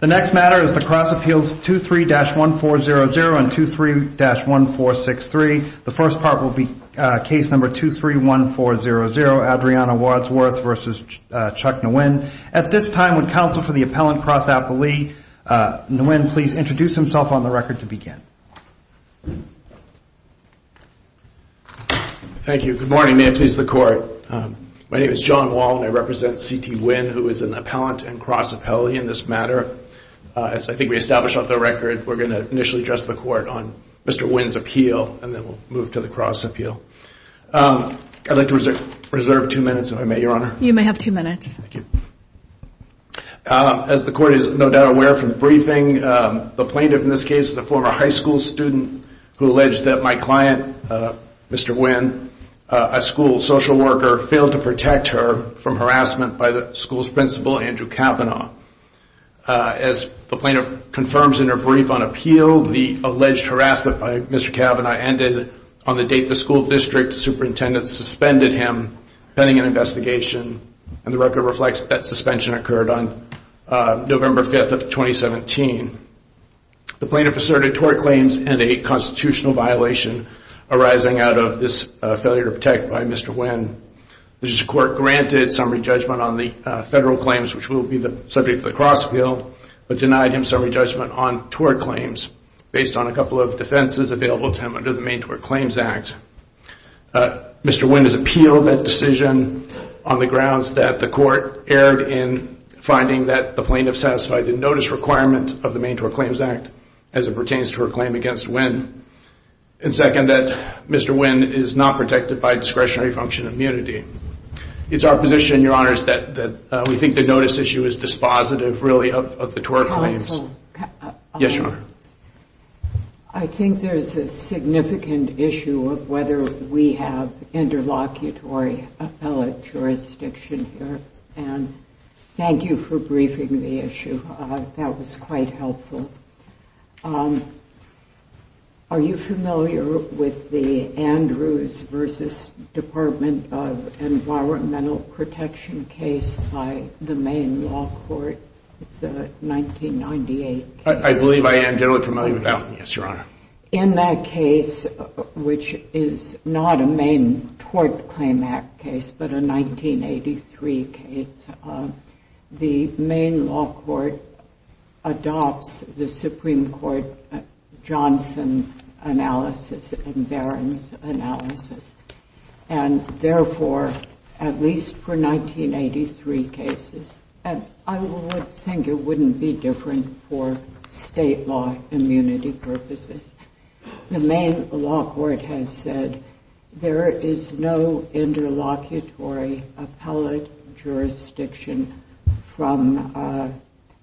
The next matter is the Cross Appeals 23-1400 and 23-1463. The first part will be case number 23-1400, Adriana Wadsworth v. Chuck Nguyen. At this time, would counsel for the appellant, Cross Appellee Nguyen, please introduce himself on the record to begin. Thank you. Good morning. May it please the Court. My name is John Wall and I represent C.T. Nguyen, who is an appellant and Cross Appellee in this matter. As I think we established off the record, we're going to initially address the Court on Mr. Nguyen's appeal and then we'll move to the Cross Appeal. I'd like to reserve two minutes, if I may, Your Honor. You may have two minutes. Thank you. As the Court is no doubt aware from the briefing, the plaintiff in this case is a former high school student who alleged that my client, Mr. Nguyen, a school social worker, failed to protect her from harassment by the school's principal, Andrew Cavanaugh. As the plaintiff confirms in her brief on appeal, the alleged harassment by Mr. Cavanaugh ended on the date the school district superintendent suspended him pending an investigation. And the record reflects that suspension occurred on November 5th of 2017. The plaintiff asserted tort claims and a constitutional violation arising out of this failure to protect by Mr. Nguyen. The District Court granted summary judgment on the federal claims, which will be the subject of the Cross Appeal, but denied him summary judgment on tort claims based on a couple of defenses available to him under the Maine Tort Claims Act. Mr. Nguyen has appealed that decision on the grounds that the Court erred in finding that the plaintiff satisfied the notice requirement of the Maine Tort Claims Act as it pertains to her claim against Nguyen, and second, that Mr. Nguyen is not protected by discretionary function of immunity. It's our position, Your Honors, that we think the notice issue is dispositive, really, of the tort claims. Yes, Your Honor. I think there's a significant issue of whether we have interlocutory appellate jurisdiction here. And thank you for briefing the issue. That was quite helpful. Are you familiar with the Andrews v. Department of Environmental Protection case by the Maine Law Court? It's a 1998 case. I believe I am generally familiar with that one, yes, Your Honor. In that case, which is not a Maine Tort Claim Act case, but a 1983 case, the Maine Law Court adopts the Supreme Court Johnson analysis and Barron's analysis. And therefore, at least for 1983 cases, I would think it wouldn't be different for state law immunity purposes. The Maine Law Court has said there is no interlocutory appellate jurisdiction from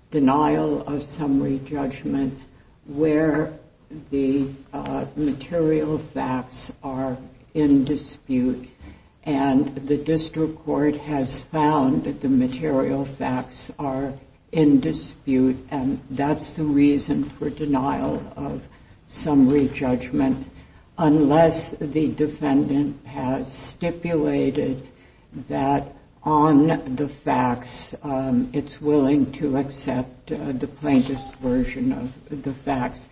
denial of summary judgment where the material facts are in dispute. And the district court has found that the material facts are in dispute, and that's the reason for denial of summary judgment, unless the defendant has stipulated that on the facts it's willing to accept the plaintiff's version of the facts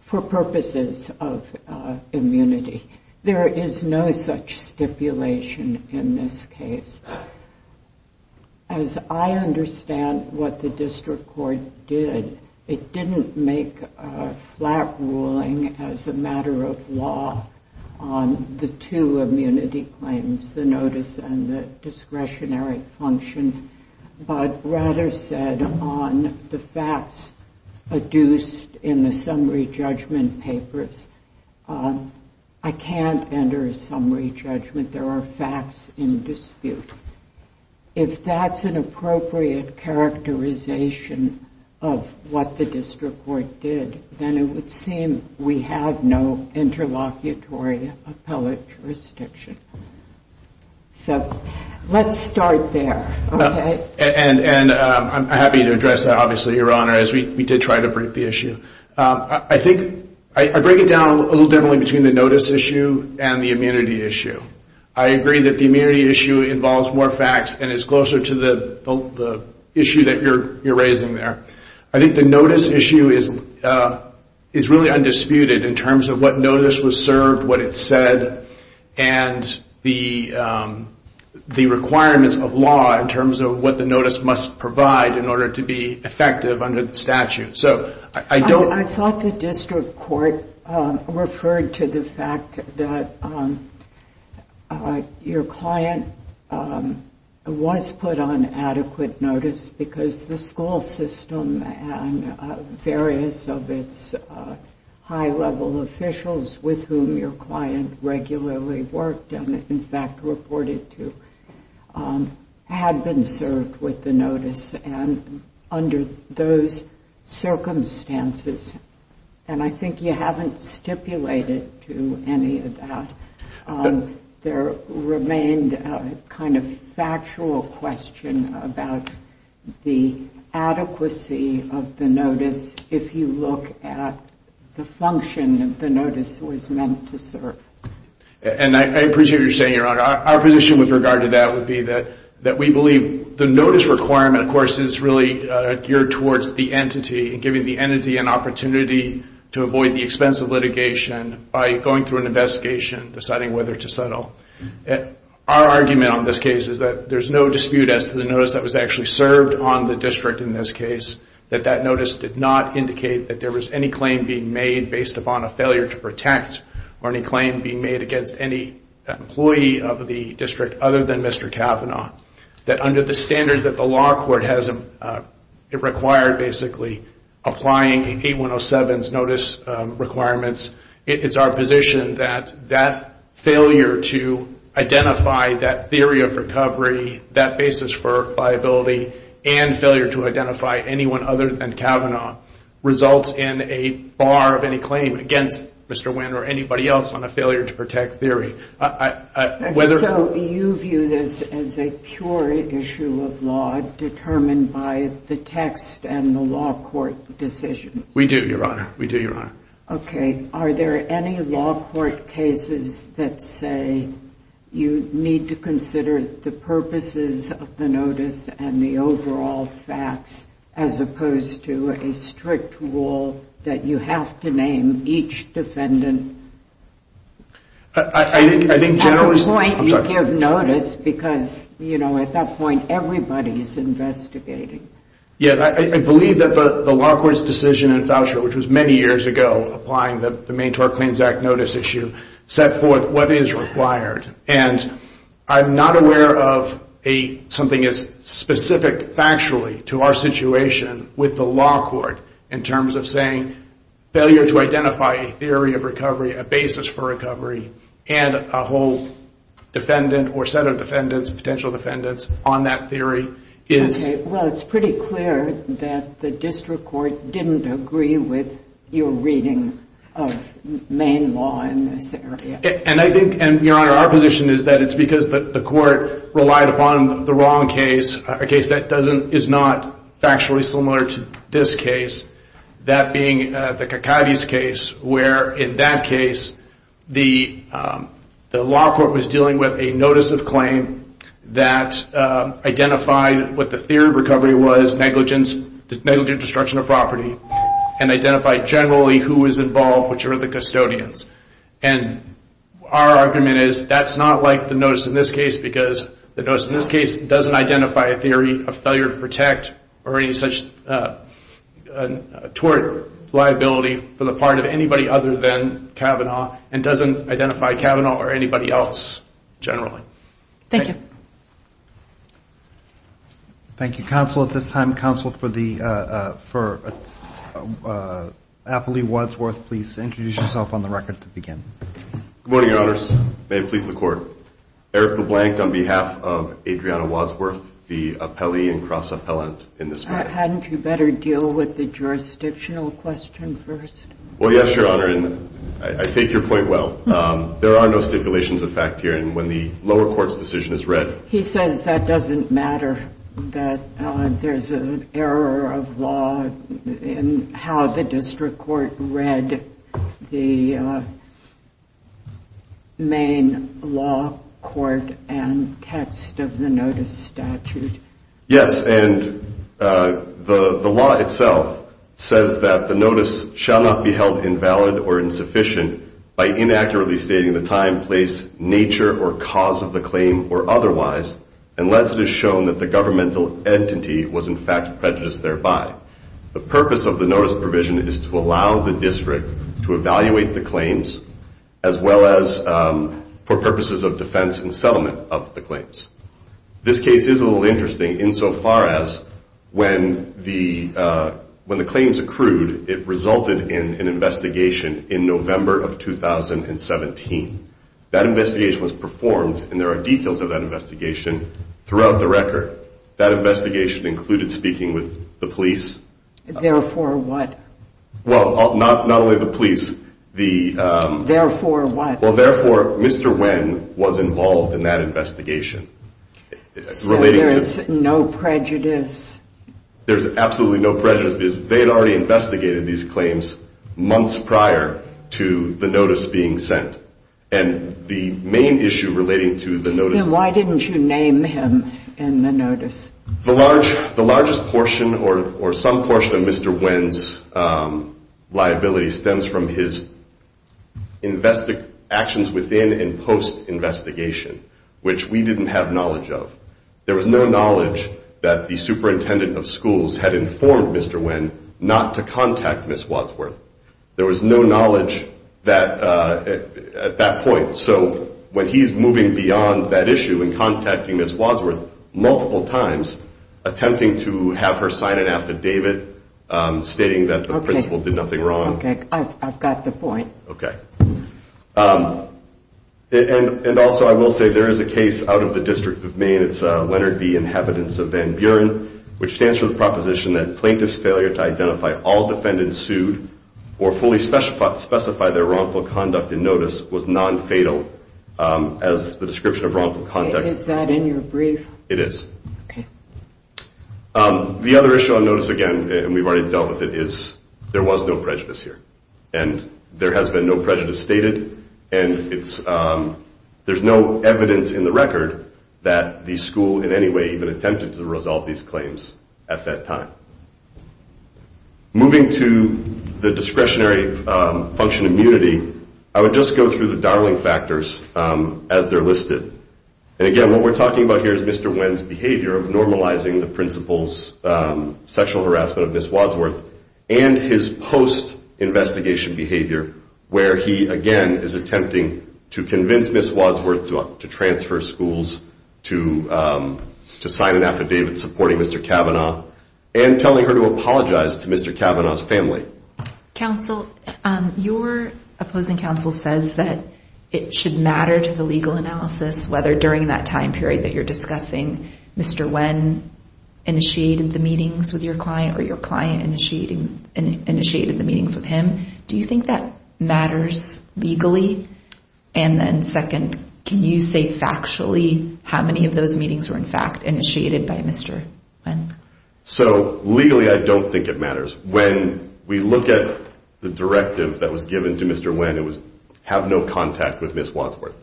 for purposes of immunity. There is no such stipulation in this case. As I understand what the district court did, it didn't make a flat ruling as a matter of law on the two immunity claims, the notice and the discretionary function, but rather said on the facts adduced in the summary judgment papers, I can't enter a summary judgment, there are facts in dispute. If that's an appropriate characterization of what the district court did, then it would seem we have no interlocutory appellate jurisdiction. So let's start there, okay? And I'm happy to address that, obviously, Your Honor, as we did try to break the issue. I break it down a little differently between the notice issue and the immunity issue. I agree that the immunity issue involves more facts and is closer to the issue that you're raising there. I think the notice issue is really undisputed in terms of what notice was served, what it said, and the requirements of law in terms of what the notice must provide in order to be effective under the statute. I thought the district court referred to the fact that your client was put on adequate notice because the school system and various of its high-level officials with whom your client regularly worked and in fact reported to had been served with the notice, and under those circumstances, and I think you haven't stipulated to any of that, there remained a kind of factual question about the adequacy of the notice, if you look at the function that the notice was meant to serve. And I appreciate what you're saying, Your Honor. Our position with regard to that would be that we believe the notice requirement, of course, is really geared towards the entity and giving the entity an opportunity to avoid the expense of litigation by going through an investigation, deciding whether to settle. Our argument on this case is that there's no dispute as to the notice that was actually served on the district in this case, that that notice did not indicate that there was any claim being made based upon a failure to protect or any claim being made against any employee of the district other than Mr. Cavanaugh, that under the standards that the law court has required, basically, applying 8107's notice requirements, it is our position that that failure to identify that theory of recovery, that basis for liability, and failure to identify anyone other than Cavanaugh results in a bar of any claim against Mr. Wynn or any other employee. So you view this as a pure issue of law determined by the text and the law court decisions? We do, Your Honor. We do, Your Honor. Okay. Are there any law court cases that say you need to consider the purposes of the notice and the overall facts as opposed to a strict rule that you have to name each defendant? At a point, you give notice because, you know, at that point, everybody's investigating. Yeah. I believe that the law court's decision in Foucher, which was many years ago, applying the main tort claims act notice issue, set forth what is required, and I'm not aware of something as specific factually to our situation with the law court in terms of saying failure to identify a theory of recovery, a basis for recovery, and a whole defendant or set of defendants, potential defendants, on that theory is... Okay. Well, it's pretty clear that the district court didn't agree with your reading of main law in this area. And I think, Your Honor, our position is that it's because the court relied upon the wrong case, a case that is not factually similar to this case, that being the Cacates case, where, in that case, the law court was dealing with a notice of claim that identified what the theory of recovery was, negligent destruction of property, and identified generally who was involved, which were the custodians. And our argument is that's not like the notice in this case, because the notice in this case doesn't identify a theory of failure to protect or any such tort liability for the part of anybody other than Kavanaugh, and doesn't identify Kavanaugh or anybody else generally. Thank you. Thank you, Counsel. At this time, Counsel, for the... Apolli Wadsworth, please introduce yourself on the record to begin. Good morning, Your Honors. May it please the Court. Eric LeBlanc on behalf of Adriana Wadsworth, the appellee and cross-appellant in this matter. Hadn't you better deal with the jurisdictional question first? Well, yes, Your Honor, and I take your point well. There are no stipulations of fact here, and when the lower court's decision is read... He says that doesn't matter, that there's an error of law in how the district court read the main law court and text of the notice statute. Yes, and the law itself says that the notice shall not be held invalid or insufficient by inaccurately stating the time, place, nature, or cause of the claim or otherwise, unless it is shown that the governmental entity was in fact prejudiced thereby. The purpose of the notice provision is to allow the district to evaluate the claims, as well as for purposes of defense and settlement of the claims. This case is a little interesting insofar as when the claims accrued, it resulted in an investigation in November of 2017. That investigation was performed, and there are details of that investigation throughout the record. That investigation included speaking with the police. Therefore, what? Well, not only the police. Therefore, what? Therefore, Mr. Nguyen was involved in that investigation. So there's no prejudice? There's absolutely no prejudice because they had already investigated these claims months prior to the notice being sent, and the main issue relating to the notice. Then why didn't you name him in the notice? The largest portion or some portion of Mr. Nguyen's liability stems from his actions within and post-investigation, which we didn't have knowledge of. There was no knowledge that the superintendent of schools had informed Mr. Nguyen not to contact Ms. Wadsworth. There was no knowledge at that point. So when he's moving beyond that issue and contacting Ms. Wadsworth multiple times, he's attempting to have her sign an affidavit stating that the principal did nothing wrong. Okay, I've got the point. And also I will say there is a case out of the District of Maine. It's Leonard B. Inhabitants of Van Buren, which stands for the proposition that plaintiff's failure to identify all defendants sued or fully specify their wrongful conduct in notice was nonfatal as the description of wrongful conduct. Is that in your brief? It is. The other issue on notice, again, and we've already dealt with it, is there was no prejudice here. And there has been no prejudice stated, and there's no evidence in the record that the school in any way even attempted to resolve these claims at that time. Moving to the discretionary function immunity, I would just go through the darling factors as they're listed. And again, what we're talking about here is Mr. Nguyen's behavior of normalizing the principal's sexual harassment of Ms. Wadsworth and his post-investigation behavior where he, again, is attempting to convince Ms. Wadsworth to transfer schools, to sign an affidavit supporting Mr. Kavanaugh, and telling her to apologize to Mr. Kavanaugh's family. Counsel, your opposing counsel says that it should matter to the legal analysis whether during that time period that you're discussing Mr. Nguyen initiated the meetings with your client or your client initiated the meetings with him. Do you think that matters legally? How many of those meetings were, in fact, initiated by Mr. Nguyen? So, legally, I don't think it matters. When we look at the directive that was given to Mr. Nguyen, it was have no contact with Ms. Wadsworth.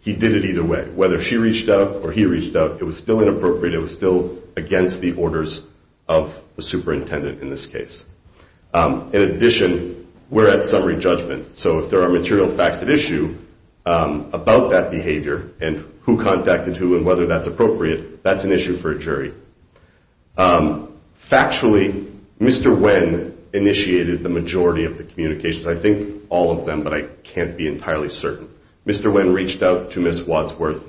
He did it either way. Whether she reached out or he reached out, it was still inappropriate. It was still against the orders of the superintendent in this case. In addition, we're at summary judgment, so if there are material facts at issue about that behavior and who contacted who and whether that's appropriate, that's an issue for a jury. Factually, Mr. Nguyen initiated the majority of the communications. I think all of them, but I can't be entirely certain. Mr. Nguyen reached out to Ms. Wadsworth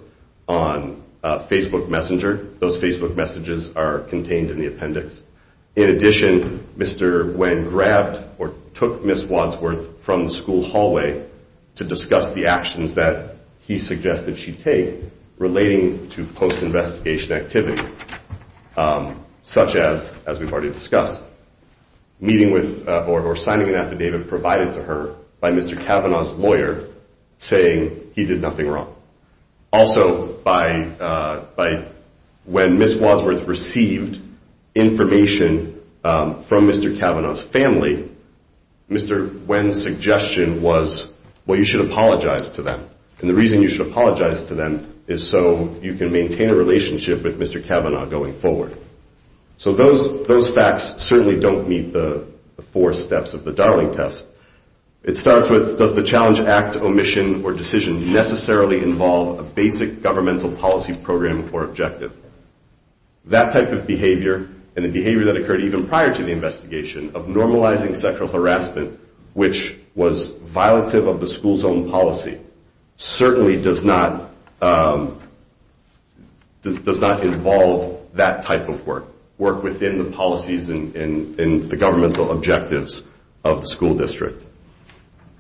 on Facebook Messenger. Those Facebook messages are contained in the appendix. In addition, Mr. Nguyen grabbed or took Ms. Wadsworth from the school hallway to discuss the actions that he suggested she take relating to post-investigation activities, such as, as we've already discussed, meeting with or signing an affidavit provided to her by Mr. Kavanaugh's lawyer saying he did nothing wrong. Also, when Ms. Wadsworth received information from Mr. Kavanaugh's family, Mr. Nguyen's suggestion was, well, you should apologize to them. And the reason you should apologize to them is so you can maintain a relationship with Mr. Kavanaugh going forward. So those facts certainly don't meet the four steps of the Darling Test. It starts with, does the Challenge Act omission or decision necessarily involve a basic governmental policy program or objective? That type of behavior and the behavior that occurred even prior to the investigation of normalizing sexual harassment, which was violative of the school's own policy, certainly does not involve that type of work, work within the policies and the governmental objectives of the school district.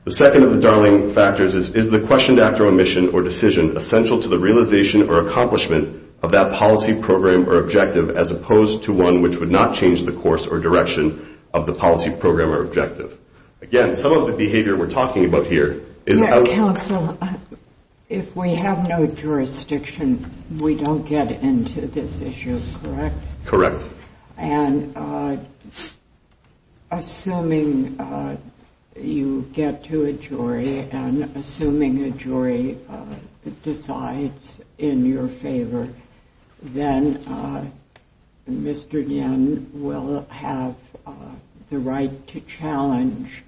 The second of the Darling factors is, is the question to act on omission or decision essential to the realization or accomplishment of that policy program or objective as opposed to one which would not change the course or direction of the policy program or objective? Again, some of the behavior we're talking about here is... Counsel, if we have no jurisdiction, we don't get into this issue, correct? Correct. And assuming you get to a jury and assuming a jury decides in your favor, then Mr. Yin will have the right to challenge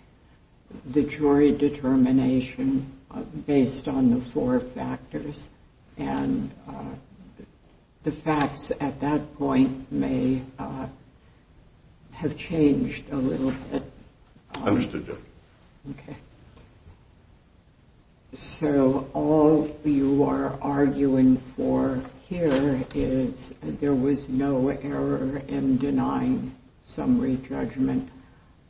the jury determination based on the four factors. And the facts at that point may have changed a little bit. Understood, Judge. Okay. So all you are arguing for here is there was no error in denying summary judgment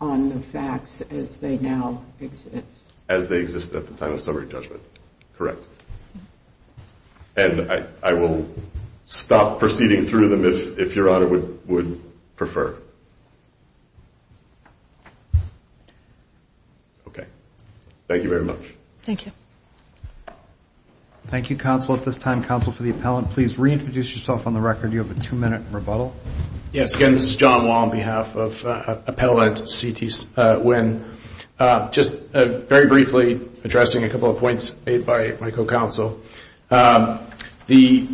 on the facts as they now exist? As they exist at the time of summary judgment, correct. And I will stop proceeding through them if Your Honor would prefer. Okay. Thank you very much. Yes, again, this is John Wall on behalf of Appellant C.T. Nguyen. Just very briefly addressing a couple of points made by my co-counsel. The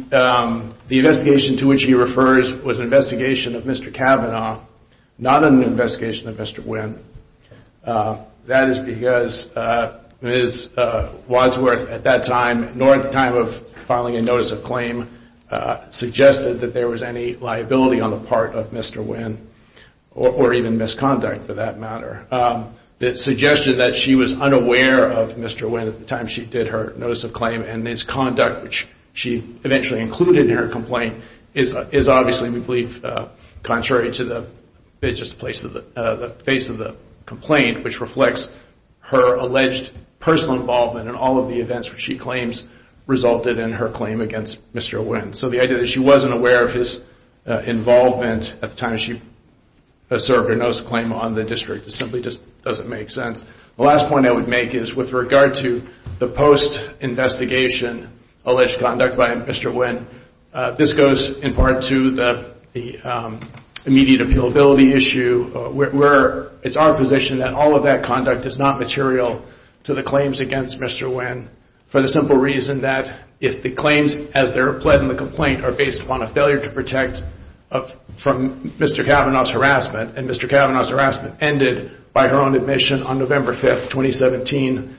investigation to which he refers was an investigation of Mr. Kavanaugh, not an investigation of Mr. Nguyen. That is because Ms. Wadsworth at that time, nor at the time of filing a notice of claim, suggested that there was any liability on the part of Mr. Nguyen, or even misconduct for that matter. The suggestion that she was unaware of Mr. Nguyen at the time she did her notice of claim and his conduct, which she eventually included in her complaint, is obviously, we believe, contrary to the face of the complaint, which reflects her alleged personal involvement in all of the events which she claims resulted in her claim against Mr. Nguyen. So the idea that she wasn't aware of his involvement at the time she asserted her notice of claim on the district simply doesn't make sense. The last point I would make is with regard to the post-investigation alleged conduct by Mr. Nguyen, this goes in part to the immediate appealability issue. It's our position that all of that conduct is not material to the claims against Mr. Nguyen, for the simple reason that if the claims as they're pled in the complaint are based upon a failure to protect from Mr. Kavanaugh's harassment, and Mr. Kavanaugh's harassment ended by her own admission on November 5th, 2017,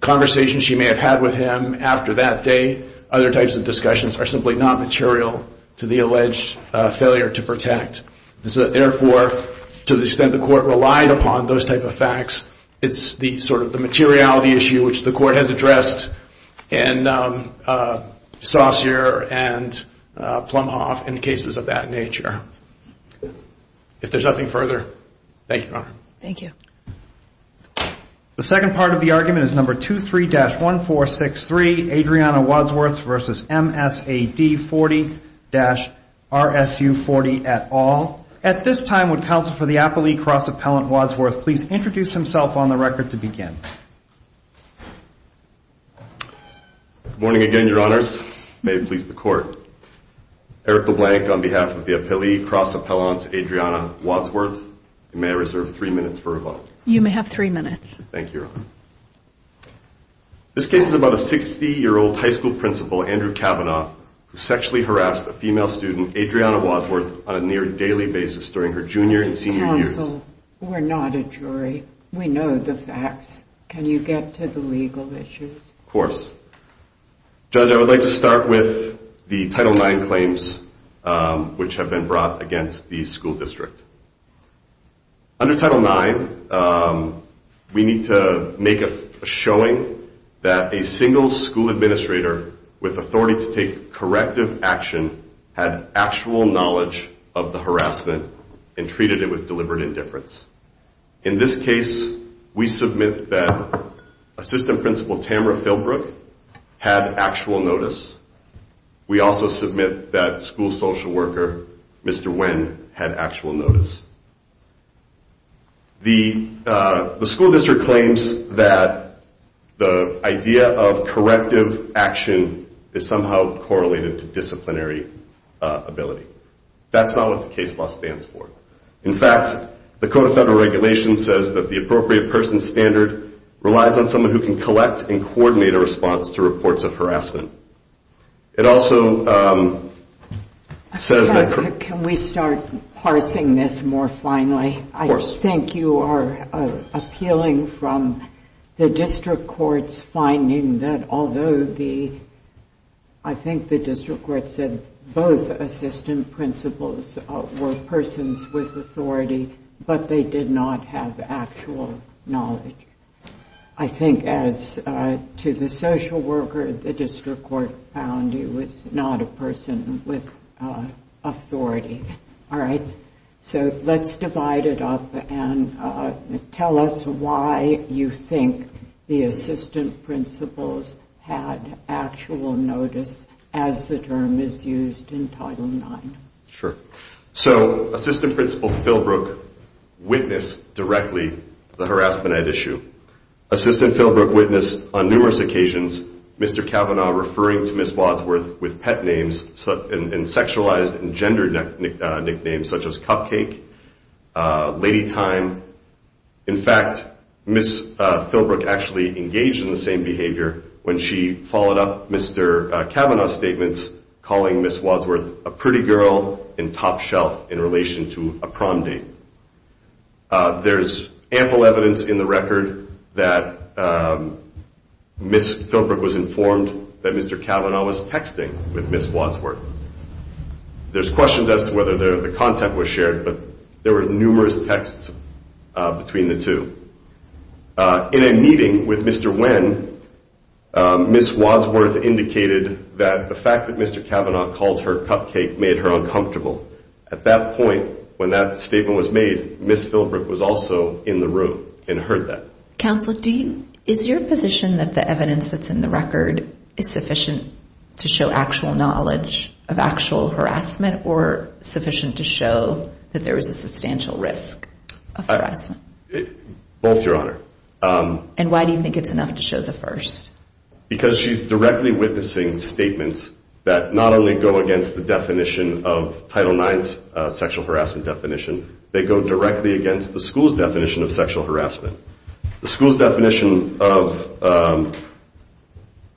conversations she may have had with him after that day, other types of discussions are simply not material to the alleged failure to protect. Therefore, to the extent the Court relied upon those type of facts, it's sort of the materiality issue which the Court has addressed in Saussure and Plumhoff in cases of that nature. If there's nothing further, thank you, Your Honor. The second part of the argument is number 23-1463, Adriana Wadsworth v. M.S.A.D. 40-R.S.U. 40, et al. At this time, would counsel for the appellee, Cross Appellant Wadsworth, please introduce himself on the record to begin. Good morning again, Your Honors. May it please the Court. Erica Blank, on behalf of the appellee, Cross Appellant Adriana Wadsworth, may I reserve three minutes for rebuttal? You may have three minutes. Thank you, Your Honor. This case is about a 60-year-old high school principal, Andrew Kavanaugh, who sexually harassed a female student, Adriana Wadsworth, on a near daily basis during her junior and senior years. Counsel, we're not a jury. We know the facts. Can you get to the legal issues? Of course. Judge, I would like to start with the Title IX claims which have been brought against the school district. Under Title IX, we need to make a showing that a single school administrator with authority to take corrective action had actual knowledge of the harassment and treated it with deliberate intent. In this case, we submit that Assistant Principal Tamara Philbrook had actual notice. We also submit that school social worker Mr. Nguyen had actual notice. The school district claims that the idea of corrective action is somehow correlated to disciplinary ability. That's not what the case law stands for. In fact, the Code of Federal Regulations says that the appropriate person standard relies on someone who can collect and coordinate a response to reports of harassment. It also says that... Can we start parsing this more finally? Of course. I think you are appealing from the district court's finding that although the, I think the district court said both Assistant Principals were persons with disciplinary ability, but they did not have actual knowledge. I think as to the social worker, the district court found he was not a person with authority. All right. So let's divide it up and tell us why you think the Assistant Principals had actual notice as the term is used in Title IX. Sure. So, Assistant Principal Philbrook witnessed directly the harassment at issue. Assistant Philbrook witnessed on numerous occasions Mr. Kavanaugh referring to Ms. Wadsworth with pet names and sexualized and gendered nicknames such as Cupcake, Lady Time. In fact, Ms. Philbrook actually engaged in the same behavior when she followed up Mr. Kavanaugh's statements calling Ms. Wadsworth a pretty girl and a slut. A pretty girl and top shelf in relation to a prom date. There's ample evidence in the record that Ms. Philbrook was informed that Mr. Kavanaugh was texting with Ms. Wadsworth. There's questions as to whether the content was shared, but there were numerous texts between the two. In a meeting with Mr. Wynn, Ms. Wadsworth indicated that the fact that Mr. Kavanaugh called her Cupcake made her uncomfortable. At that point, when that statement was made, Ms. Philbrook was also in the room and heard that. Counsel, is your position that the evidence that's in the record is sufficient to show actual knowledge of actual harassment or sufficient to show that there was a substantial risk of harassment? Both, Your Honor. And why do you think it's enough to show the first? Because she's directly witnessing statements that not only go against the definition of Title IX's sexual harassment definition, they go directly against the school's definition of sexual harassment. The school's definition of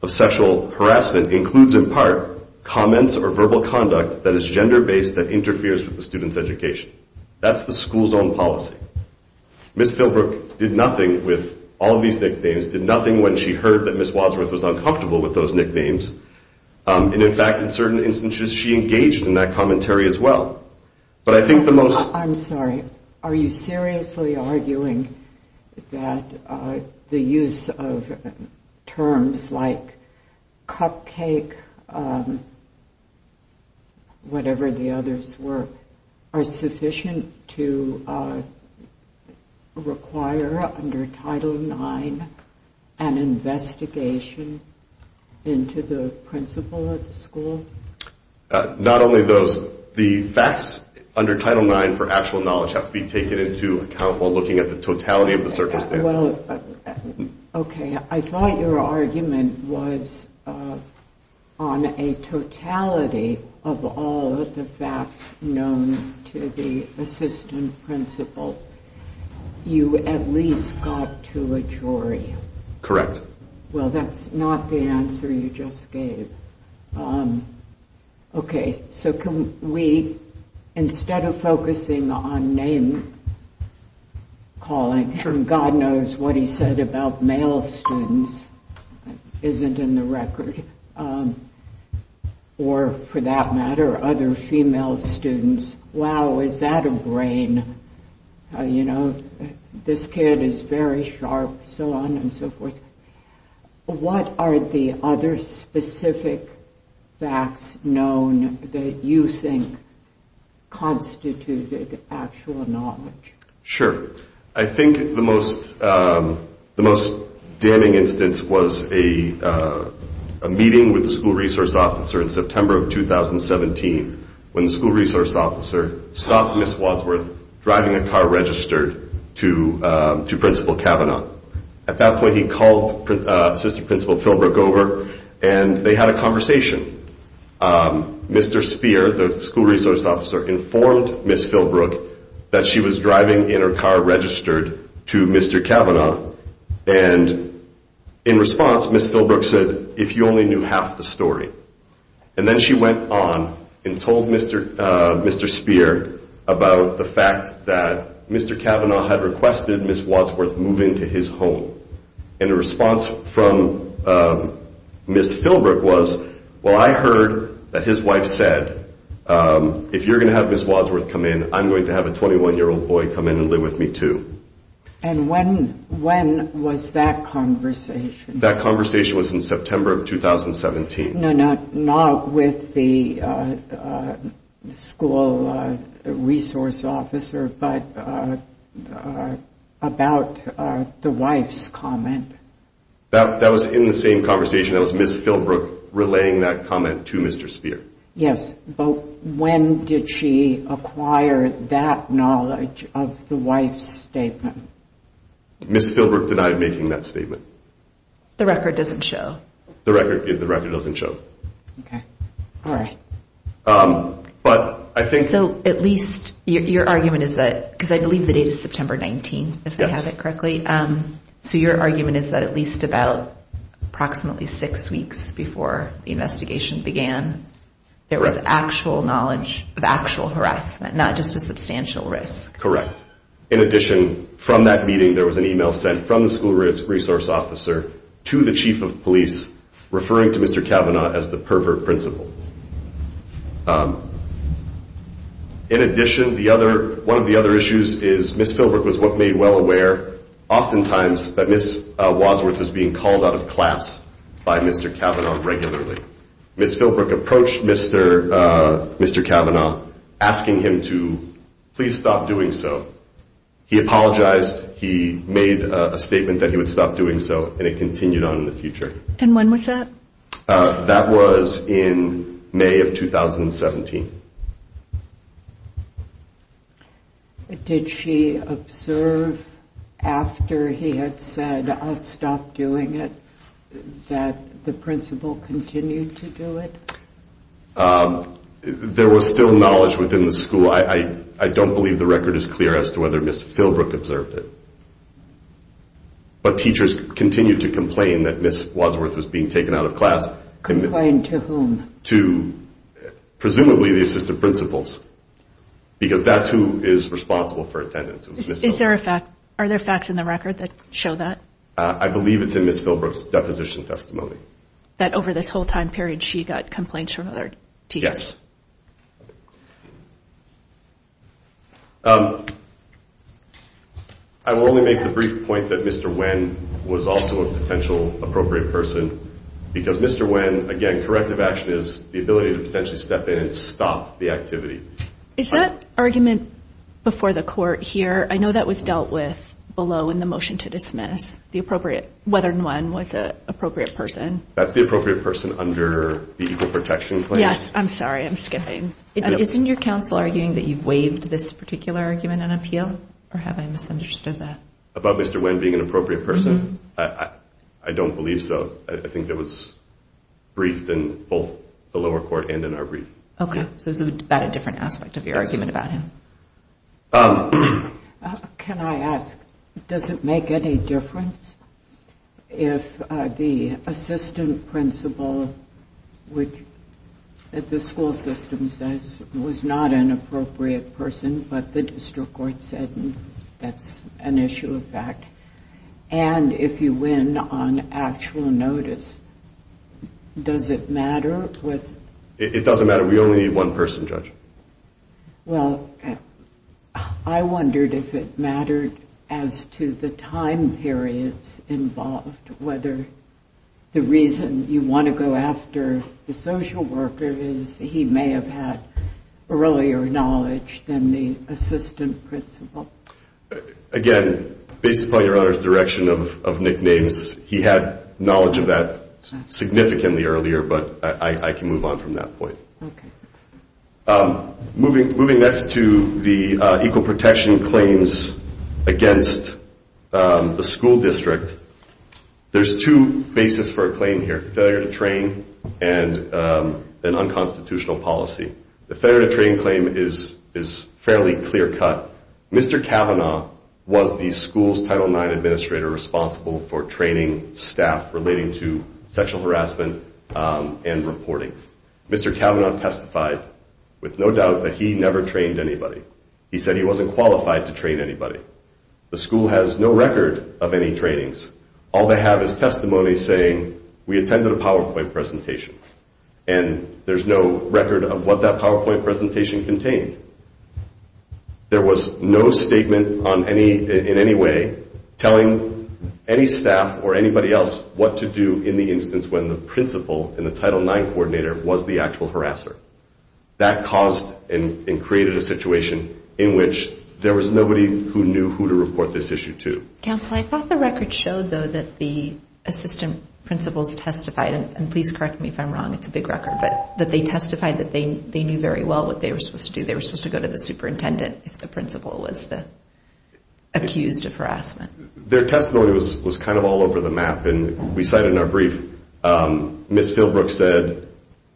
sexual harassment includes, in part, comments or verbal conduct that is gender based that interferes with the student's education. That's the school's own policy. Ms. Wadsworth was uncomfortable with those nicknames, and in fact, in certain instances, she engaged in that commentary as well. I'm sorry. Are you seriously arguing that the use of terms like Cupcake, whatever the others were, are sufficient to require, under Title IX, an investigation? Not only those. The facts under Title IX for actual knowledge have to be taken into account while looking at the totality of the circumstances. Okay. I thought your argument was on a totality of all of the facts known to the assistant principal. You at least got to a jury. Correct. Well, that's not the answer you just gave. Okay. You know, this kid is very sharp, so on and so forth. What are the other specific facts known that you think constituted actual knowledge? Sure. I think the most damning instance was a meeting with the school resource officer in September of 2017, when the school resource officer stopped Ms. Wadsworth driving a car ready to go to school. Ms. Wadsworth's car was registered to Principal Cavanaugh. At that point, he called Assistant Principal Philbrook over, and they had a conversation. Mr. Spear, the school resource officer, informed Ms. Philbrook that she was driving in her car registered to Mr. Cavanaugh, and in response, Ms. Philbrook said, And then she went on and told Mr. Spear about the fact that Mr. Cavanaugh had requested Ms. Wadsworth move into his home. And the response from Ms. Philbrook was, Well, I heard that his wife said, And when was that conversation? That conversation was in September of 2017. No, not with the school resource officer, but about the wife's comment. That was in the same conversation. That was Ms. Philbrook relaying that comment to Mr. Spear. Yes, but when did she acquire that knowledge of the wife's statement? Ms. Philbrook denied making that statement. The record doesn't show. Your argument is that, because I believe the date is September 19, if I have it correctly, so your argument is that at least about approximately six weeks before the investigation began, there was actual knowledge of actual harassment, not just a substantial risk. Correct. In addition, from that meeting, there was an email sent from the school resource officer to the chief of police, referring to Mr. Cavanaugh as the pervert principal. In addition, one of the other issues is Ms. Philbrook was what made well aware, oftentimes, that Ms. Wadsworth was being called out of class by Mr. Cavanaugh regularly. Ms. Philbrook approached Mr. Cavanaugh, asking him to please stop doing so. He apologized. He made a statement that he would stop doing so, and it continued on in the future. And when was that? That was in May of 2017. Did she observe after he had said, I'll stop doing it, that the principal continued to do it? There was still knowledge within the school. I don't believe the record is clear as to whether Ms. Philbrook observed it, but teachers continued to complain that Ms. Wadsworth was being taken out of class. Complained to whom? Presumably the assistant principals, because that's who is responsible for attendance. Are there facts in the record that show that? I believe it's in Ms. Philbrook's deposition testimony. That over this whole time period, she got complaints from other teachers? Yes. I will only make the brief point that Mr. Nguyen was also a potential appropriate person, because Mr. Nguyen, again, corrective action is the ability to potentially step in and stop the activity. Is that argument before the court here, I know that was dealt with below in the motion to dismiss, whether Nguyen was an appropriate person? That's the appropriate person under the equal protection clause? Yes, I'm sorry, I'm skipping. Isn't your counsel arguing that you waived this particular argument and appeal, or have I misunderstood that? About Mr. Nguyen being an appropriate person? I don't believe so. I think it was briefed in both the lower court and in our brief. Okay, so it's about a different aspect of your argument about him. Can I ask, does it make any difference if the assistant principal that the school system says was not an appropriate person, but the district court said that's an issue of fact, and if you win on actual notice, does it matter? It doesn't matter. We only need one person, Judge. Well, I wondered if it mattered as to the time periods involved, whether the reason you want to go after the social worker is he may have had earlier knowledge than the assistant principal. Again, based upon your Honor's direction of nicknames, he had knowledge of that significantly earlier, but I can move on from that point. Moving next to the equal protection claims against the school district, there's two bases for a claim here. Failure to train and an unconstitutional policy. The failure to train claim is fairly clear-cut. Mr. Cavanaugh was the school's Title IX administrator responsible for training staff relating to sexual harassment and reporting. Mr. Cavanaugh testified with no doubt that he never trained anybody. He said he wasn't qualified to train anybody. The school has no record of any trainings. All they have is testimony saying, we attended a PowerPoint presentation and there's no record of what that PowerPoint presentation contained. There was no statement in any way telling any staff or anybody else what to do in the instance when the principal and the Title IX coordinator was the actual harasser. That caused and created a situation in which there was nobody who knew who to report this issue to. Counsel, I thought the record showed, though, that the assistant principals testified, and please correct me if I'm wrong, it's a big record, but that they testified that they knew very well what they were supposed to do. They were supposed to go to the superintendent if the principal was accused of harassment. Their testimony was kind of all over the map, and we cite in our brief Ms. Philbrook said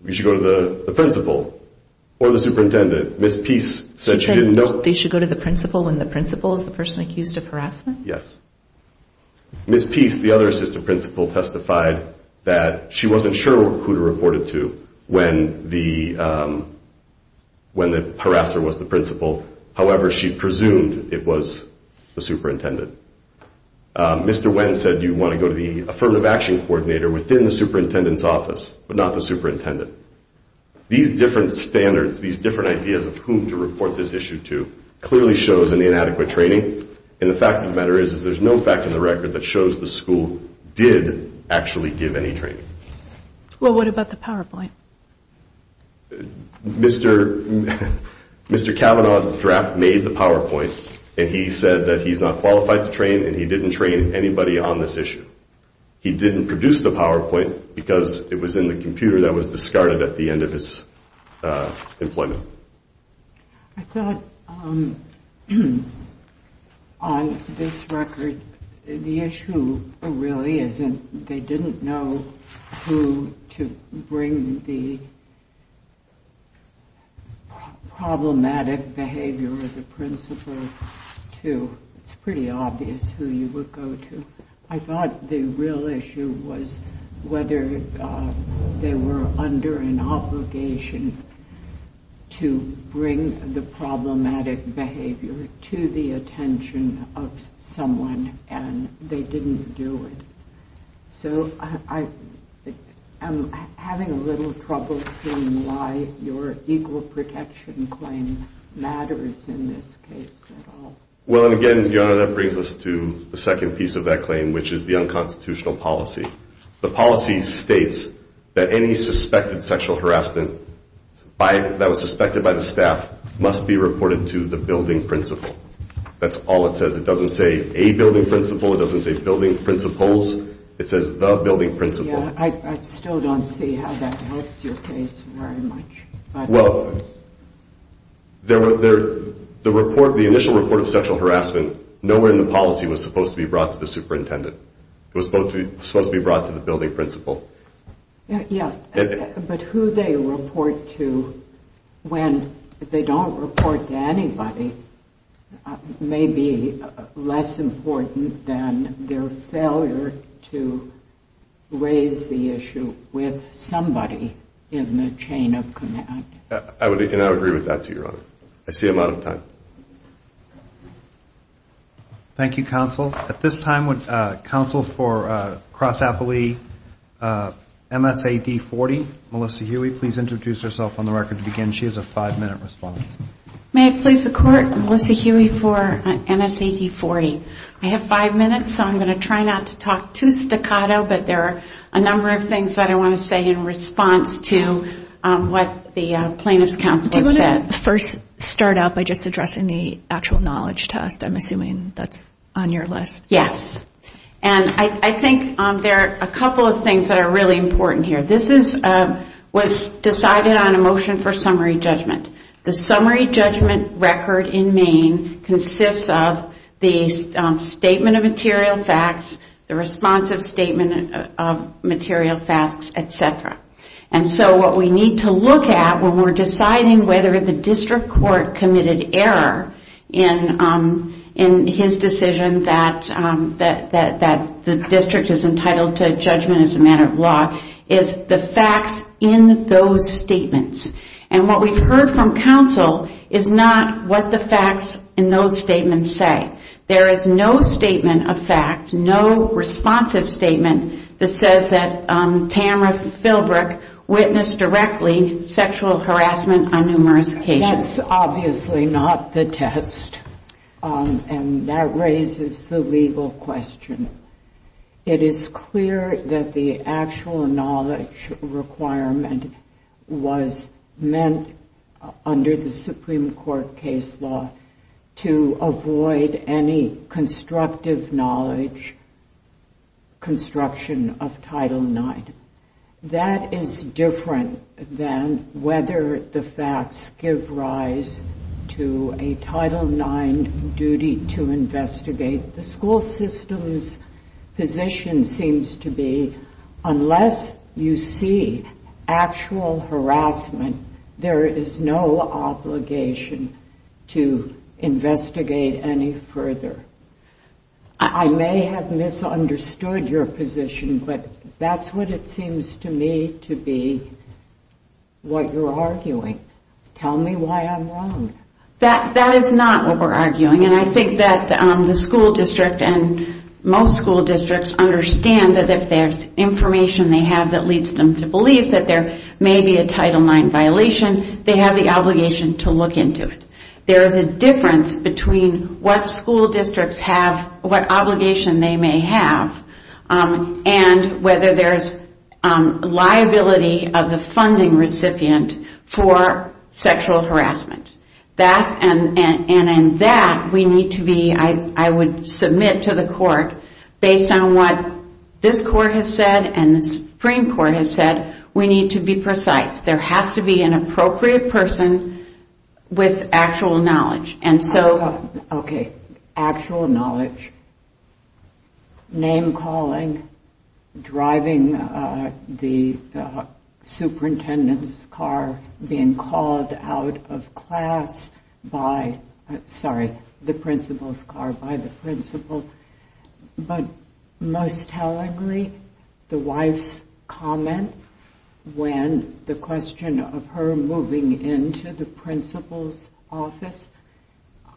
you should go to the principal or the superintendent. Ms. Peace said you didn't know. She said they should go to the principal when the principal is the person accused of harassment? Yes. Ms. Peace, the other assistant principal, testified that she wasn't sure who to report it to when the harasser was the principal. However, she presumed it was the superintendent. Mr. Wendt said you want to go to the affirmative action coordinator within the superintendent's office, but not the superintendent. These different standards, these different ideas of whom to report this issue to clearly shows an inadequate training, and the fact of the matter is there's no fact in the record that shows the school did actually give any training. Well, what about the PowerPoint? Mr. Cavanaugh draft made the PowerPoint, and he said that he's not qualified to train, and he didn't train anybody on this issue. He didn't produce the PowerPoint because it was in the computer that was discarded at the end of his employment. I thought on this record, the issue really isn't they didn't know who to bring the principal to. It's pretty obvious who you would go to. I thought the real issue was whether they were under an obligation to bring the problematic behavior to the attention of someone, and they didn't do it. So, I'm having a little trouble seeing why your equal protection claim matters in this case at all. Well, again, Your Honor, that brings us to the second piece of that claim, which is the unconstitutional policy. The policy states that any suspected sexual harassment that was suspected by the staff must be reported to the building principal. That's all it says. It doesn't say a building principal. It doesn't say building principals. It says the building principal. I still don't see how that helps your case very much. Well, the initial report of sexual harassment, nowhere in the policy was it supposed to be brought to the superintendent. It was supposed to be brought to the building principal. Yes, but who they report to when they don't report to anybody may be less important than their failure to raise the issue with somebody in the chain of command. And I would agree with that, too, Your Honor. I see I'm out of time. Thank you, Counsel. At this time, would Counsel for Cross-Appley, MSAD 40, Melissa Huey, please introduce herself on the record to begin. She has a five-minute response. May it please the Court, Melissa Huey for MSAD 40. I have five minutes, so I'm going to try not to talk too staccato, but there are a number of things that I want to say in response to what the plaintiff's counsel has said. Do you want to first start out by just addressing the actual knowledge test? I'm assuming that's on your list. Yes. And I think there are a couple of things that are really important here. This was decided on a motion for summary judgment. The summary judgment record in Maine consists of the statement of material facts, the responsive statement of material facts, etc. And so what we need to look at when we're deciding whether the district court committed error in his decision that the district is entitled to judgment as a matter of law is the facts in those statements. And what we've heard from counsel is not what the facts in those statements say. There is no statement of fact, no responsive statement that says that Tamra Philbrook witnessed directly sexual harassment on numerous occasions. That's obviously not the test. And that raises the legal question. It is clear that the actual knowledge requirement was meant under the Supreme Court case law to avoid any constructive knowledge construction of Title IX. That is different than whether the facts give rise to a Title IX duty to investigate. The school system's position seems to be unless you see actual harassment, there is no obligation to further. I may have misunderstood your position, but that's what it seems to me to be what you're arguing. Tell me why I'm wrong. That is not what we're arguing. And I think that the school district and most school districts understand that if there's information they have that leads them to believe that there may be a Title IX violation, they have the obligation to look into it. There is a liability of the funding recipient for sexual harassment. And that we need to be I would submit to the court, based on what this court has said and the Supreme Court has said, we need to be precise. There has to be an appropriate person with actual knowledge. Okay. Actual knowledge. Name calling, driving the superintendent's car being called out of class by, sorry, the principal's car by the principal. But most tellingly, the wife's comment when the question of her moving into the principal's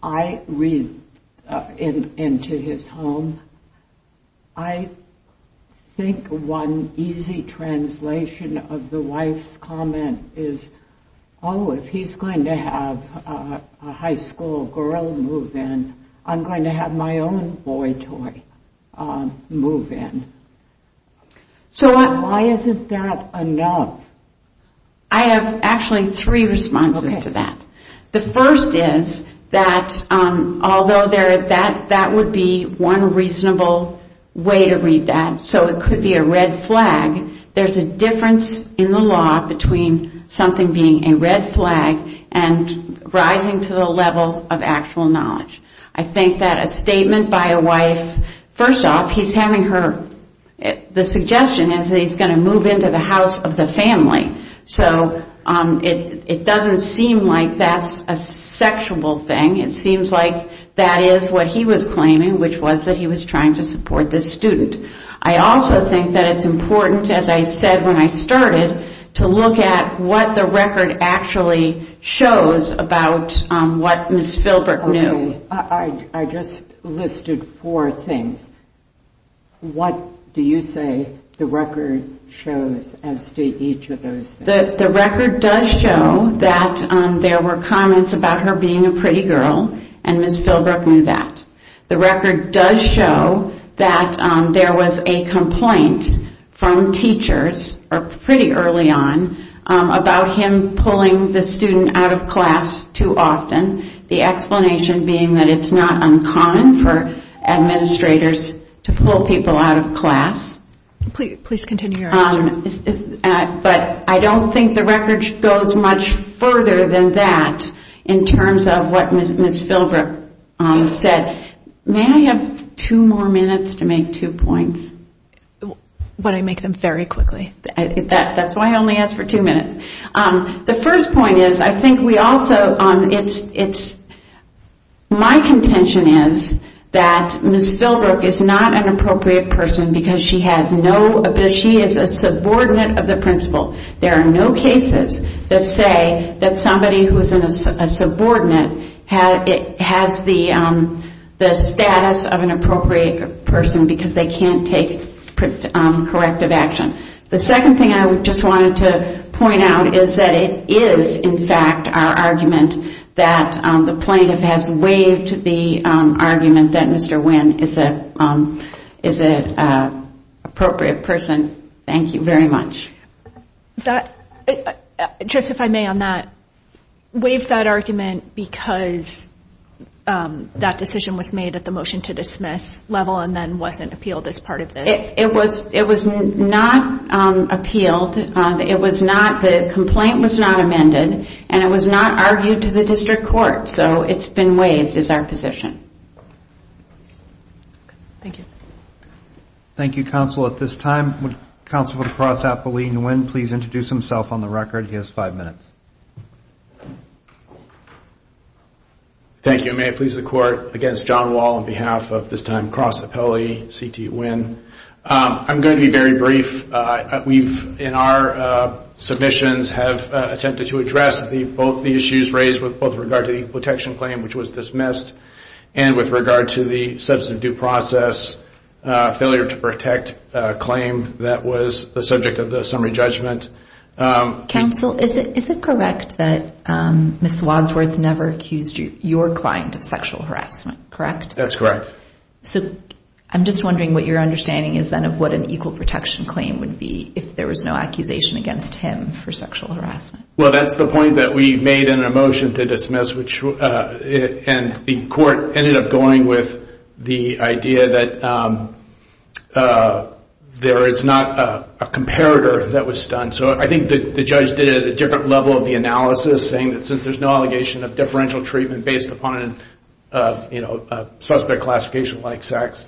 I read into his home I think one easy translation of the wife's comment is oh, if he's going to have a high school girl move in I'm going to have my own boy toy move in. So why isn't that enough? I have actually three responses to that. The first is that although that would be one reasonable way to read that so it could be a red flag, there's a difference in the law between something being a red flag and rising to the level of actual knowledge. I think that a statement by a wife, first off, he's having her, the suggestion is that he's going to move into the house of the family. So it doesn't seem like that's a sexual thing. It seems like that is what he was claiming which was that he was trying to support this student. I also think that it's important, as I said when I started, to look at what the record actually shows about what Ms. Philbrook knew. I just listed four things What do you say the record shows as to each of those things? The record does show that there were comments about her being a pretty girl and Ms. Philbrook knew that. The record does show that there was a complaint from teachers pretty early on about him pulling the student out of class too often. The explanation being that it's not uncommon for administrators to pull people out of class. But I don't think the record goes much further than that in terms of what Ms. Philbrook said. May I have two more minutes to make two points? Would I make them very quickly? That's why I only asked for two minutes. The first point is I think we also, it's, my contention is that Ms. Philbrook is not an appropriate person because she has no, she is a subordinate of the principal there are no cases that say that somebody who is a subordinate has the status of an appropriate person because they can't take corrective action. The second thing I just wanted to point out is that it is in fact our argument that the plaintiff has waived the argument that Mr. Wynn is a appropriate person. Thank you very much. Just if I may on that, waived that argument because that decision was made at the motion to dismiss level and then wasn't appealed as part of this? It was not appealed, it was not, the complaint was not amended and it was not argued to the district court so it's been waived as our position. Thank you. Thank you counsel. At this time would counsel for the Cross Appellee Nguyen please introduce himself on the record. He has five minutes. Thank you. May it please the court against John Wall on behalf of this time Cross Appellee C.T. Wynn. I'm going to be very brief. We've in our submissions have attempted to address both the issues raised with both regard to the protection claim which was dismissed and with regard to the substance of due process failure to protect claim that was the subject of the summary judgment. Counsel, is it correct that Ms. Wadsworth never accused your client of sexual harassment, correct? That's correct. So I'm just wondering what your understanding is then of what an equal protection claim would be if there was no accusation against him for sexual harassment. Well that's the point that we and the court ended up going with the idea that there is not a comparator that was done. So I think the judge did it at a different level of the analysis saying that since there's no allegation of differential treatment based upon a suspect classification like sex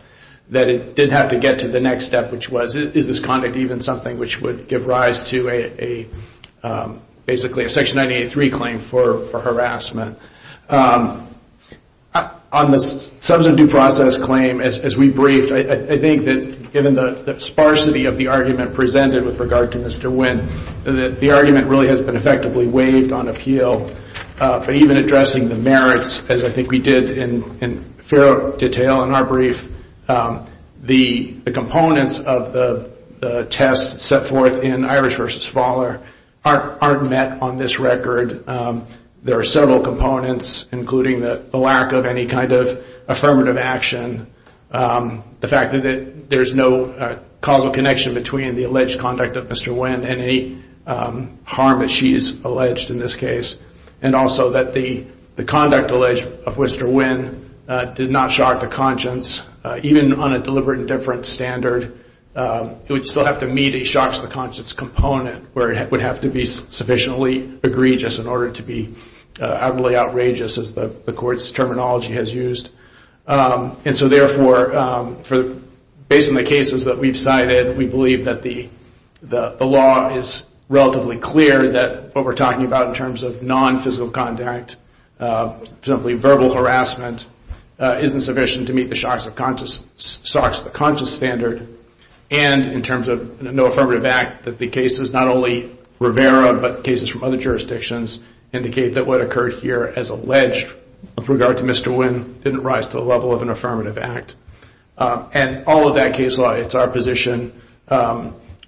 that it did have to get to the next step which was is this conduct even something which would give rise to a basically a Section 983 claim for harassment. On the substance of due process claim as we briefed, I think that given the sparsity of the argument presented with regard to Mr. Wynn that the argument really has been effectively waived on appeal but even addressing the merits as I think we did in fair detail in our brief, the components of the test set forth in Irish v. Fowler aren't met on this record. There are several components including the lack of any kind of affirmative action the fact that there's no causal connection between the alleged conduct of Mr. Wynn and any harm that she's alleged in this case and also that the conduct alleged of Mr. Wynn did not shock the conscience even on a deliberate and different standard. It would still have to meet a shocks the conscience component where it would have to be sufficiently egregious in order to be utterly outrageous as the court's terminology has used. And so therefore, based on the cases that we've cited, we believe that the law is relatively clear that what we're talking about in terms of non-physical conduct simply verbal harassment isn't sufficient to meet the shocks the conscience standard and in terms of no affirmative act that the cases not only Rivera but cases from other jurisdictions indicate that what occurred here as alleged with regard to Mr. Wynn didn't rise to the level of an affirmative act. And all of that case law, it's our position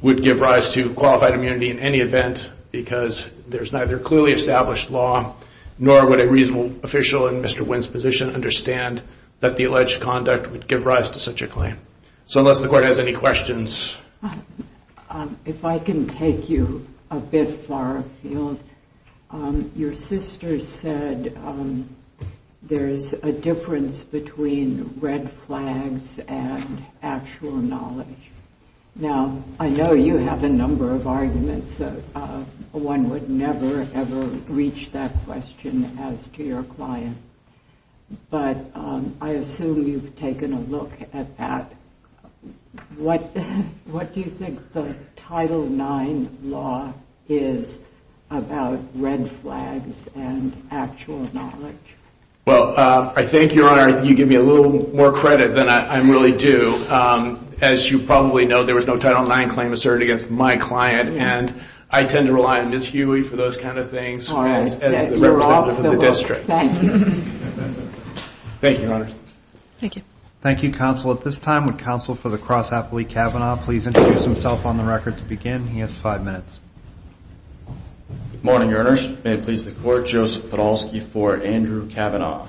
would give rise to qualified immunity in any event because there's neither clearly established law nor would a reasonable official in Mr. Wynn's position understand that the alleged conduct would give rise to such a claim. So unless the court has any questions. If I can take you a bit far afield, your sister said there's a difference between red flags and actual knowledge. Now, I know you have a number of arguments one would never ever reach that question as to your client, but I assume you've taken a look at that. What do you think the Title IX law is about red flags and actual knowledge? Well, I think, Your Honor, you give me a little more credit than I really do. As you probably know, there was no Title IX claim asserted against my client and I tend to rely on Ms. Huey for those kind of things as the representative of the district. Thank you, Your Honor. Thank you, Counsel. At this time, would Counsel for the Cross-Applicant Kavanaugh please introduce himself on the record to begin? He has five minutes. Good morning, Your Honors. May it please the Court, Joseph Podolsky for Andrew Kavanaugh.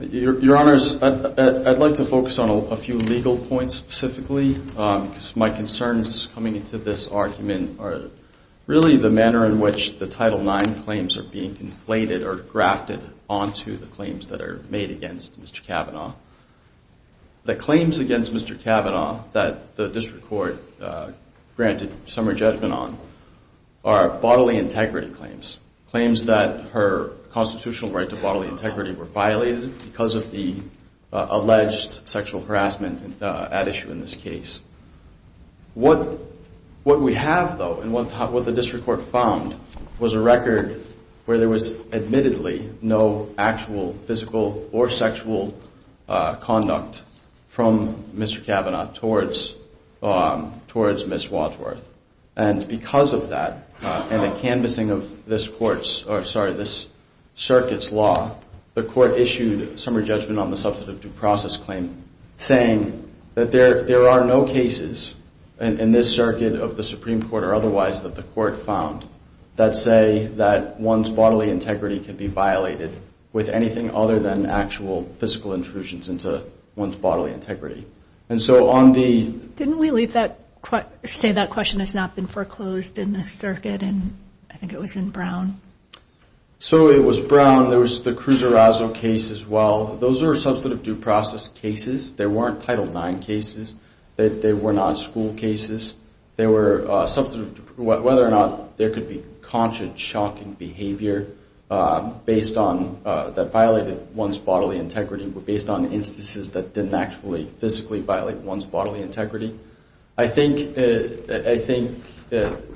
Your Honors, I'd like to focus on a few legal points specifically because my concerns coming into this argument are really the manner in which the Title IX claims are being conflated or grafted onto the claims that are made against Mr. Kavanaugh. The claims against Mr. Kavanaugh that the district court granted summer judgment on are bodily integrity claims, claims that her constitutional right to bodily integrity were violated because of the alleged sexual harassment at issue in this case. What we have, though, and what the district court found, was a record where there was admittedly no actual physical or sexual conduct from Mr. Kavanaugh towards Ms. Wadsworth. And because of that and the canvassing of this circuit's law, the court issued summer judgment on the substantive due process claim saying that there are no cases in this circuit of the Brown that say that one's bodily integrity can be violated with anything other than actual physical intrusions into one's bodily integrity. And so on the... Didn't we leave that, say that question has not been foreclosed in this circuit? I think it was in Brown. So it was Brown. There was the Cruz Arazo case as well. Those are substantive due process cases. They weren't Title IX cases. They were not school cases. They were whether or not there could be conscious, shocking behavior that violated one's bodily integrity, but based on instances that didn't actually physically violate one's bodily integrity. I think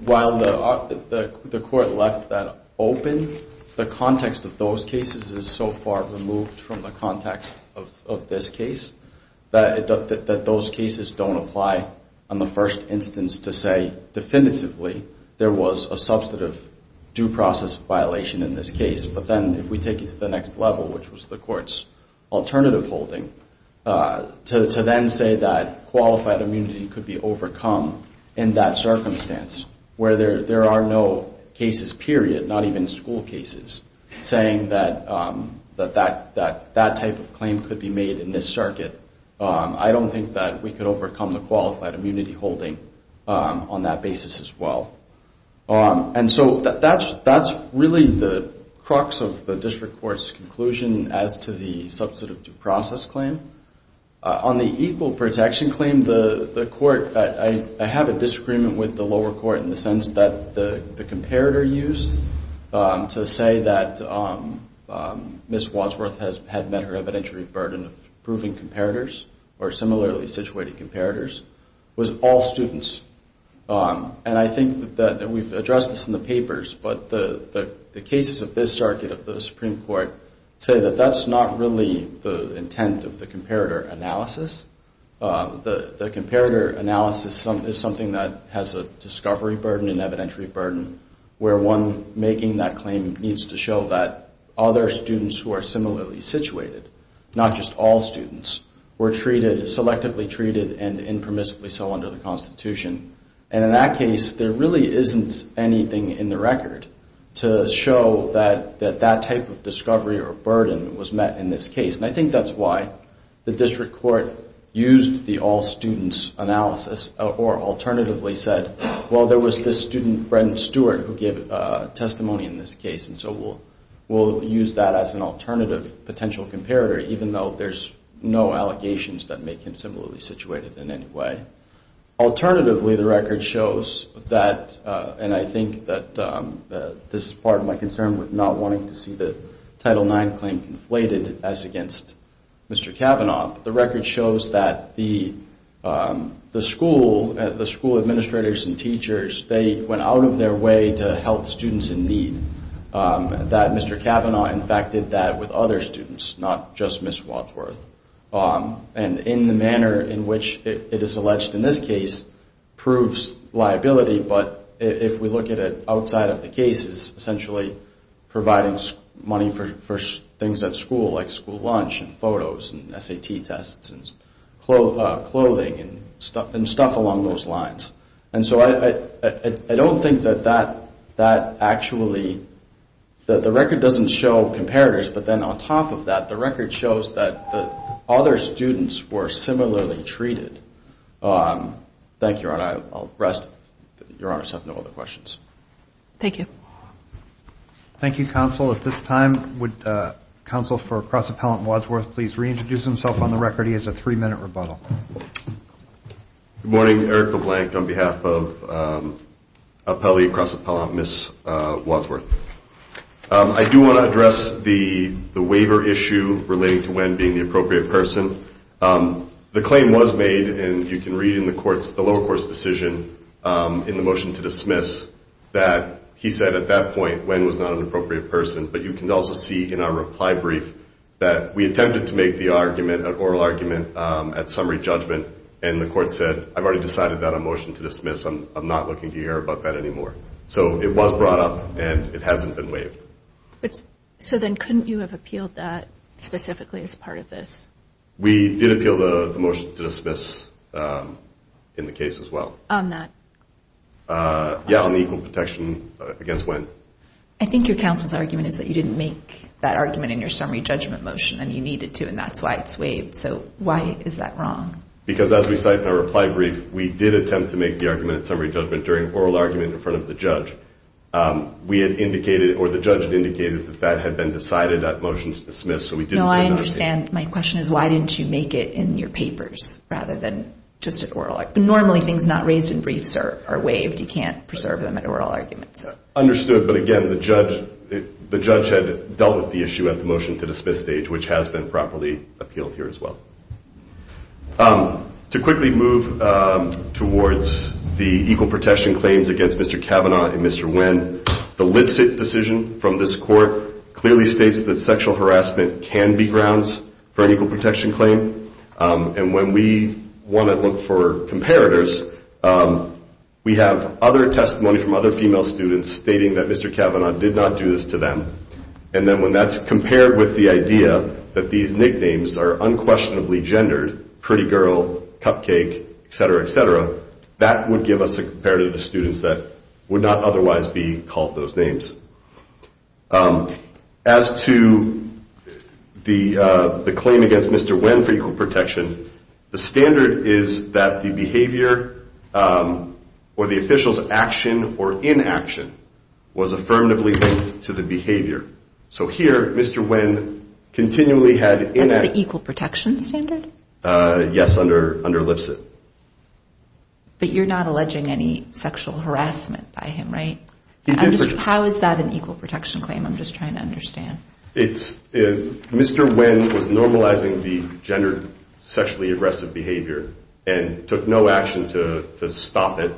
while the court left that open, the context of those cases is so far removed from the context of this case that those cases don't apply on the first instance to say definitively there was a substantive due process violation in this case. But then if we take it to the next level, which was the court's alternative holding, to then say that qualified immunity could be overcome in that circumstance where there are no cases, period, not even school cases, saying that that type of claim could be made in this circuit, I don't think that we could overcome the qualified immunity holding on that basis as well. And so that's really the crux of the district court's conclusion as to the substantive due process claim. On the equal protection claim, the court, I have a disagreement with the lower court in the sense that the comparator used to say that Ms. Wadsworth had met her evidentiary burden of proving comparators, or similarly situated comparators, was all students. And I think that we've addressed this in the papers, but the cases of this circuit of the Supreme Court say that that's not really the intent of the comparator analysis. The comparator analysis is something that has a discovery burden, an evidentiary burden, where one making that claim needs to show that other students who are similarly situated, not just all students, were treated, selectively treated, and impermissibly so under the Constitution. And in that case, there really isn't anything in the record to show that that type of discovery or burden was met in this case. And I think that's why the district court used the all students analysis, or alternatively said, well, there was this student, Brent Stewart, who gave testimony in this case, and so we'll use that as an alternative potential comparator, even though there's no allegations that make him similarly situated in any way. Alternatively, the record shows that, and I think that this is part of my concern with not wanting to see the Title IX claim conflated as against Mr. Kavanaugh, the record shows that the school administrators and teachers, they went out of their way to help students in need. That Mr. Kavanaugh, in fact, did that with other students, not just Ms. Wadsworth. And in the manner in which it is alleged in this case proves liability, but if we look at it outside of the cases, essentially providing money for things at school like school lunch and photos and SAT tests and clothing and stuff along those lines. And so I don't think that that actually, that the record doesn't show comparators, but then on top of that, the record shows that other students were similarly treated. Thank you, Your Honor. I'll rest. Your Honors have no other questions. Thank you. Thank you, Counsel. At this time, would Counsel for Cross-Appellant Wadsworth please reintroduce himself on the record? He has a three-minute rebuttal. Good morning. Eric LeBlanc on behalf of Appellee Cross-Appellant Ms. Wadsworth. I do want to address the waiver issue relating to Wen being the appropriate person. The claim was made, and you can read in the lower court's decision in the motion to dismiss that he said at that point Wen was not an appropriate person, but you can also see in our reply brief that we attempted to make the oral argument at summary judgment, and the court said, I've already decided that a motion to dismiss, I'm not looking to hear about that anymore. So it was brought up, and it hasn't been waived. So then couldn't you have appealed that specifically as part of this? We did appeal the motion to dismiss in the case as well. On that? Yeah, on the equal protection against Wen. I think your counsel's argument is that you didn't make that argument in your summary judgment motion, and you needed to, and that's why it's waived. So why is that wrong? Because as we cite in our reply brief, we did attempt to make the argument at summary judgment during oral argument in front of the judge. We had indicated, or the judge had indicated that that had been decided at motion to dismiss. No, I understand. My question is, why didn't you make it in your papers rather than just at oral? Normally things not raised in briefs are waived. You can't preserve them at oral arguments. Understood, but again, the judge had dealt with the issue at the motion to dismiss stage, which has been properly appealed here as well. To quickly move towards the equal protection claims against Mr. Kavanaugh and Mr. Wen, the Lipset decision from this court clearly states that sexual harassment can be grounds for an equal protection claim, and when we want to look for comparators, we have other testimony from other female students stating that Mr. Kavanaugh did not do this to them, and then when that's compared with the idea that these nicknames are unquestionably gendered, pretty girl, cupcake, etc., etc., that would give us a comparative of students that would not otherwise be called those names. As to the claim against Mr. Wen for equal protection, the standard is that the behavior or the official's action or inaction was affirmatively linked to the behavior. So here, Mr. Wen continually had... That's the equal protection standard? Yes, under Lipset. But you're not alleging any sexual harassment by him, right? How is that an equal protection claim? I'm just trying to understand. Mr. Wen was normalizing the gendered sexually aggressive behavior and took no action to stop it,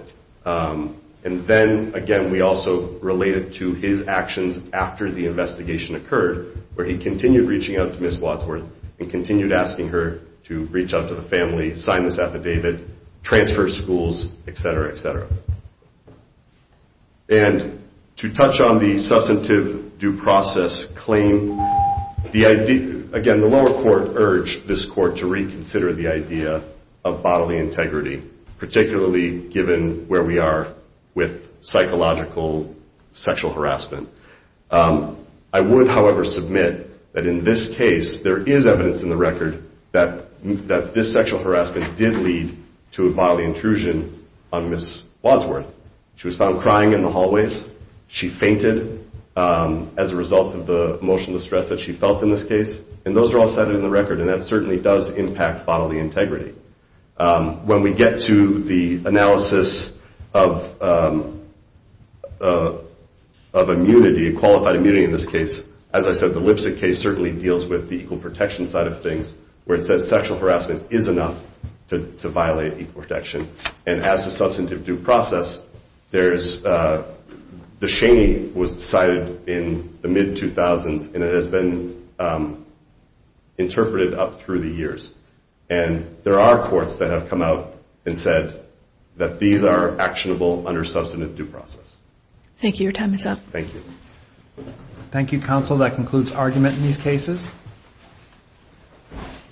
and then, again, we also related to his actions after the investigation occurred, where he continued reaching out to Ms. Wadsworth and continued asking her to reach out to the family, sign this affidavit, transfer schools, etc., etc. And to touch on the substantive due process claim, again, the lower court urged this court to reconsider the idea of bodily integrity, particularly given where we are with psychological sexual harassment. I would, however, submit that in this case, there is evidence in the record that this sexual harassment did lead to a bodily intrusion on Ms. Wadsworth. She was found crying in the hallways, she fainted as a result of the emotional distress that she felt in this case, and those are all cited in the record, and that certainly does impact bodily integrity. When we get to the analysis of immunity, qualified immunity in this case, as I said, the Lipset case certainly deals with the equal protection side of things, where it says sexual harassment is enough to violate equal protection, and as to substantive due process, there's, the Shaney was cited in the mid-2000s, and it has been interpreted up through the years, and there are courts that have come out and said that these are actionable under substantive due process. Thank you. Your time is up. Thank you. Thank you, counsel. That concludes argument in these cases.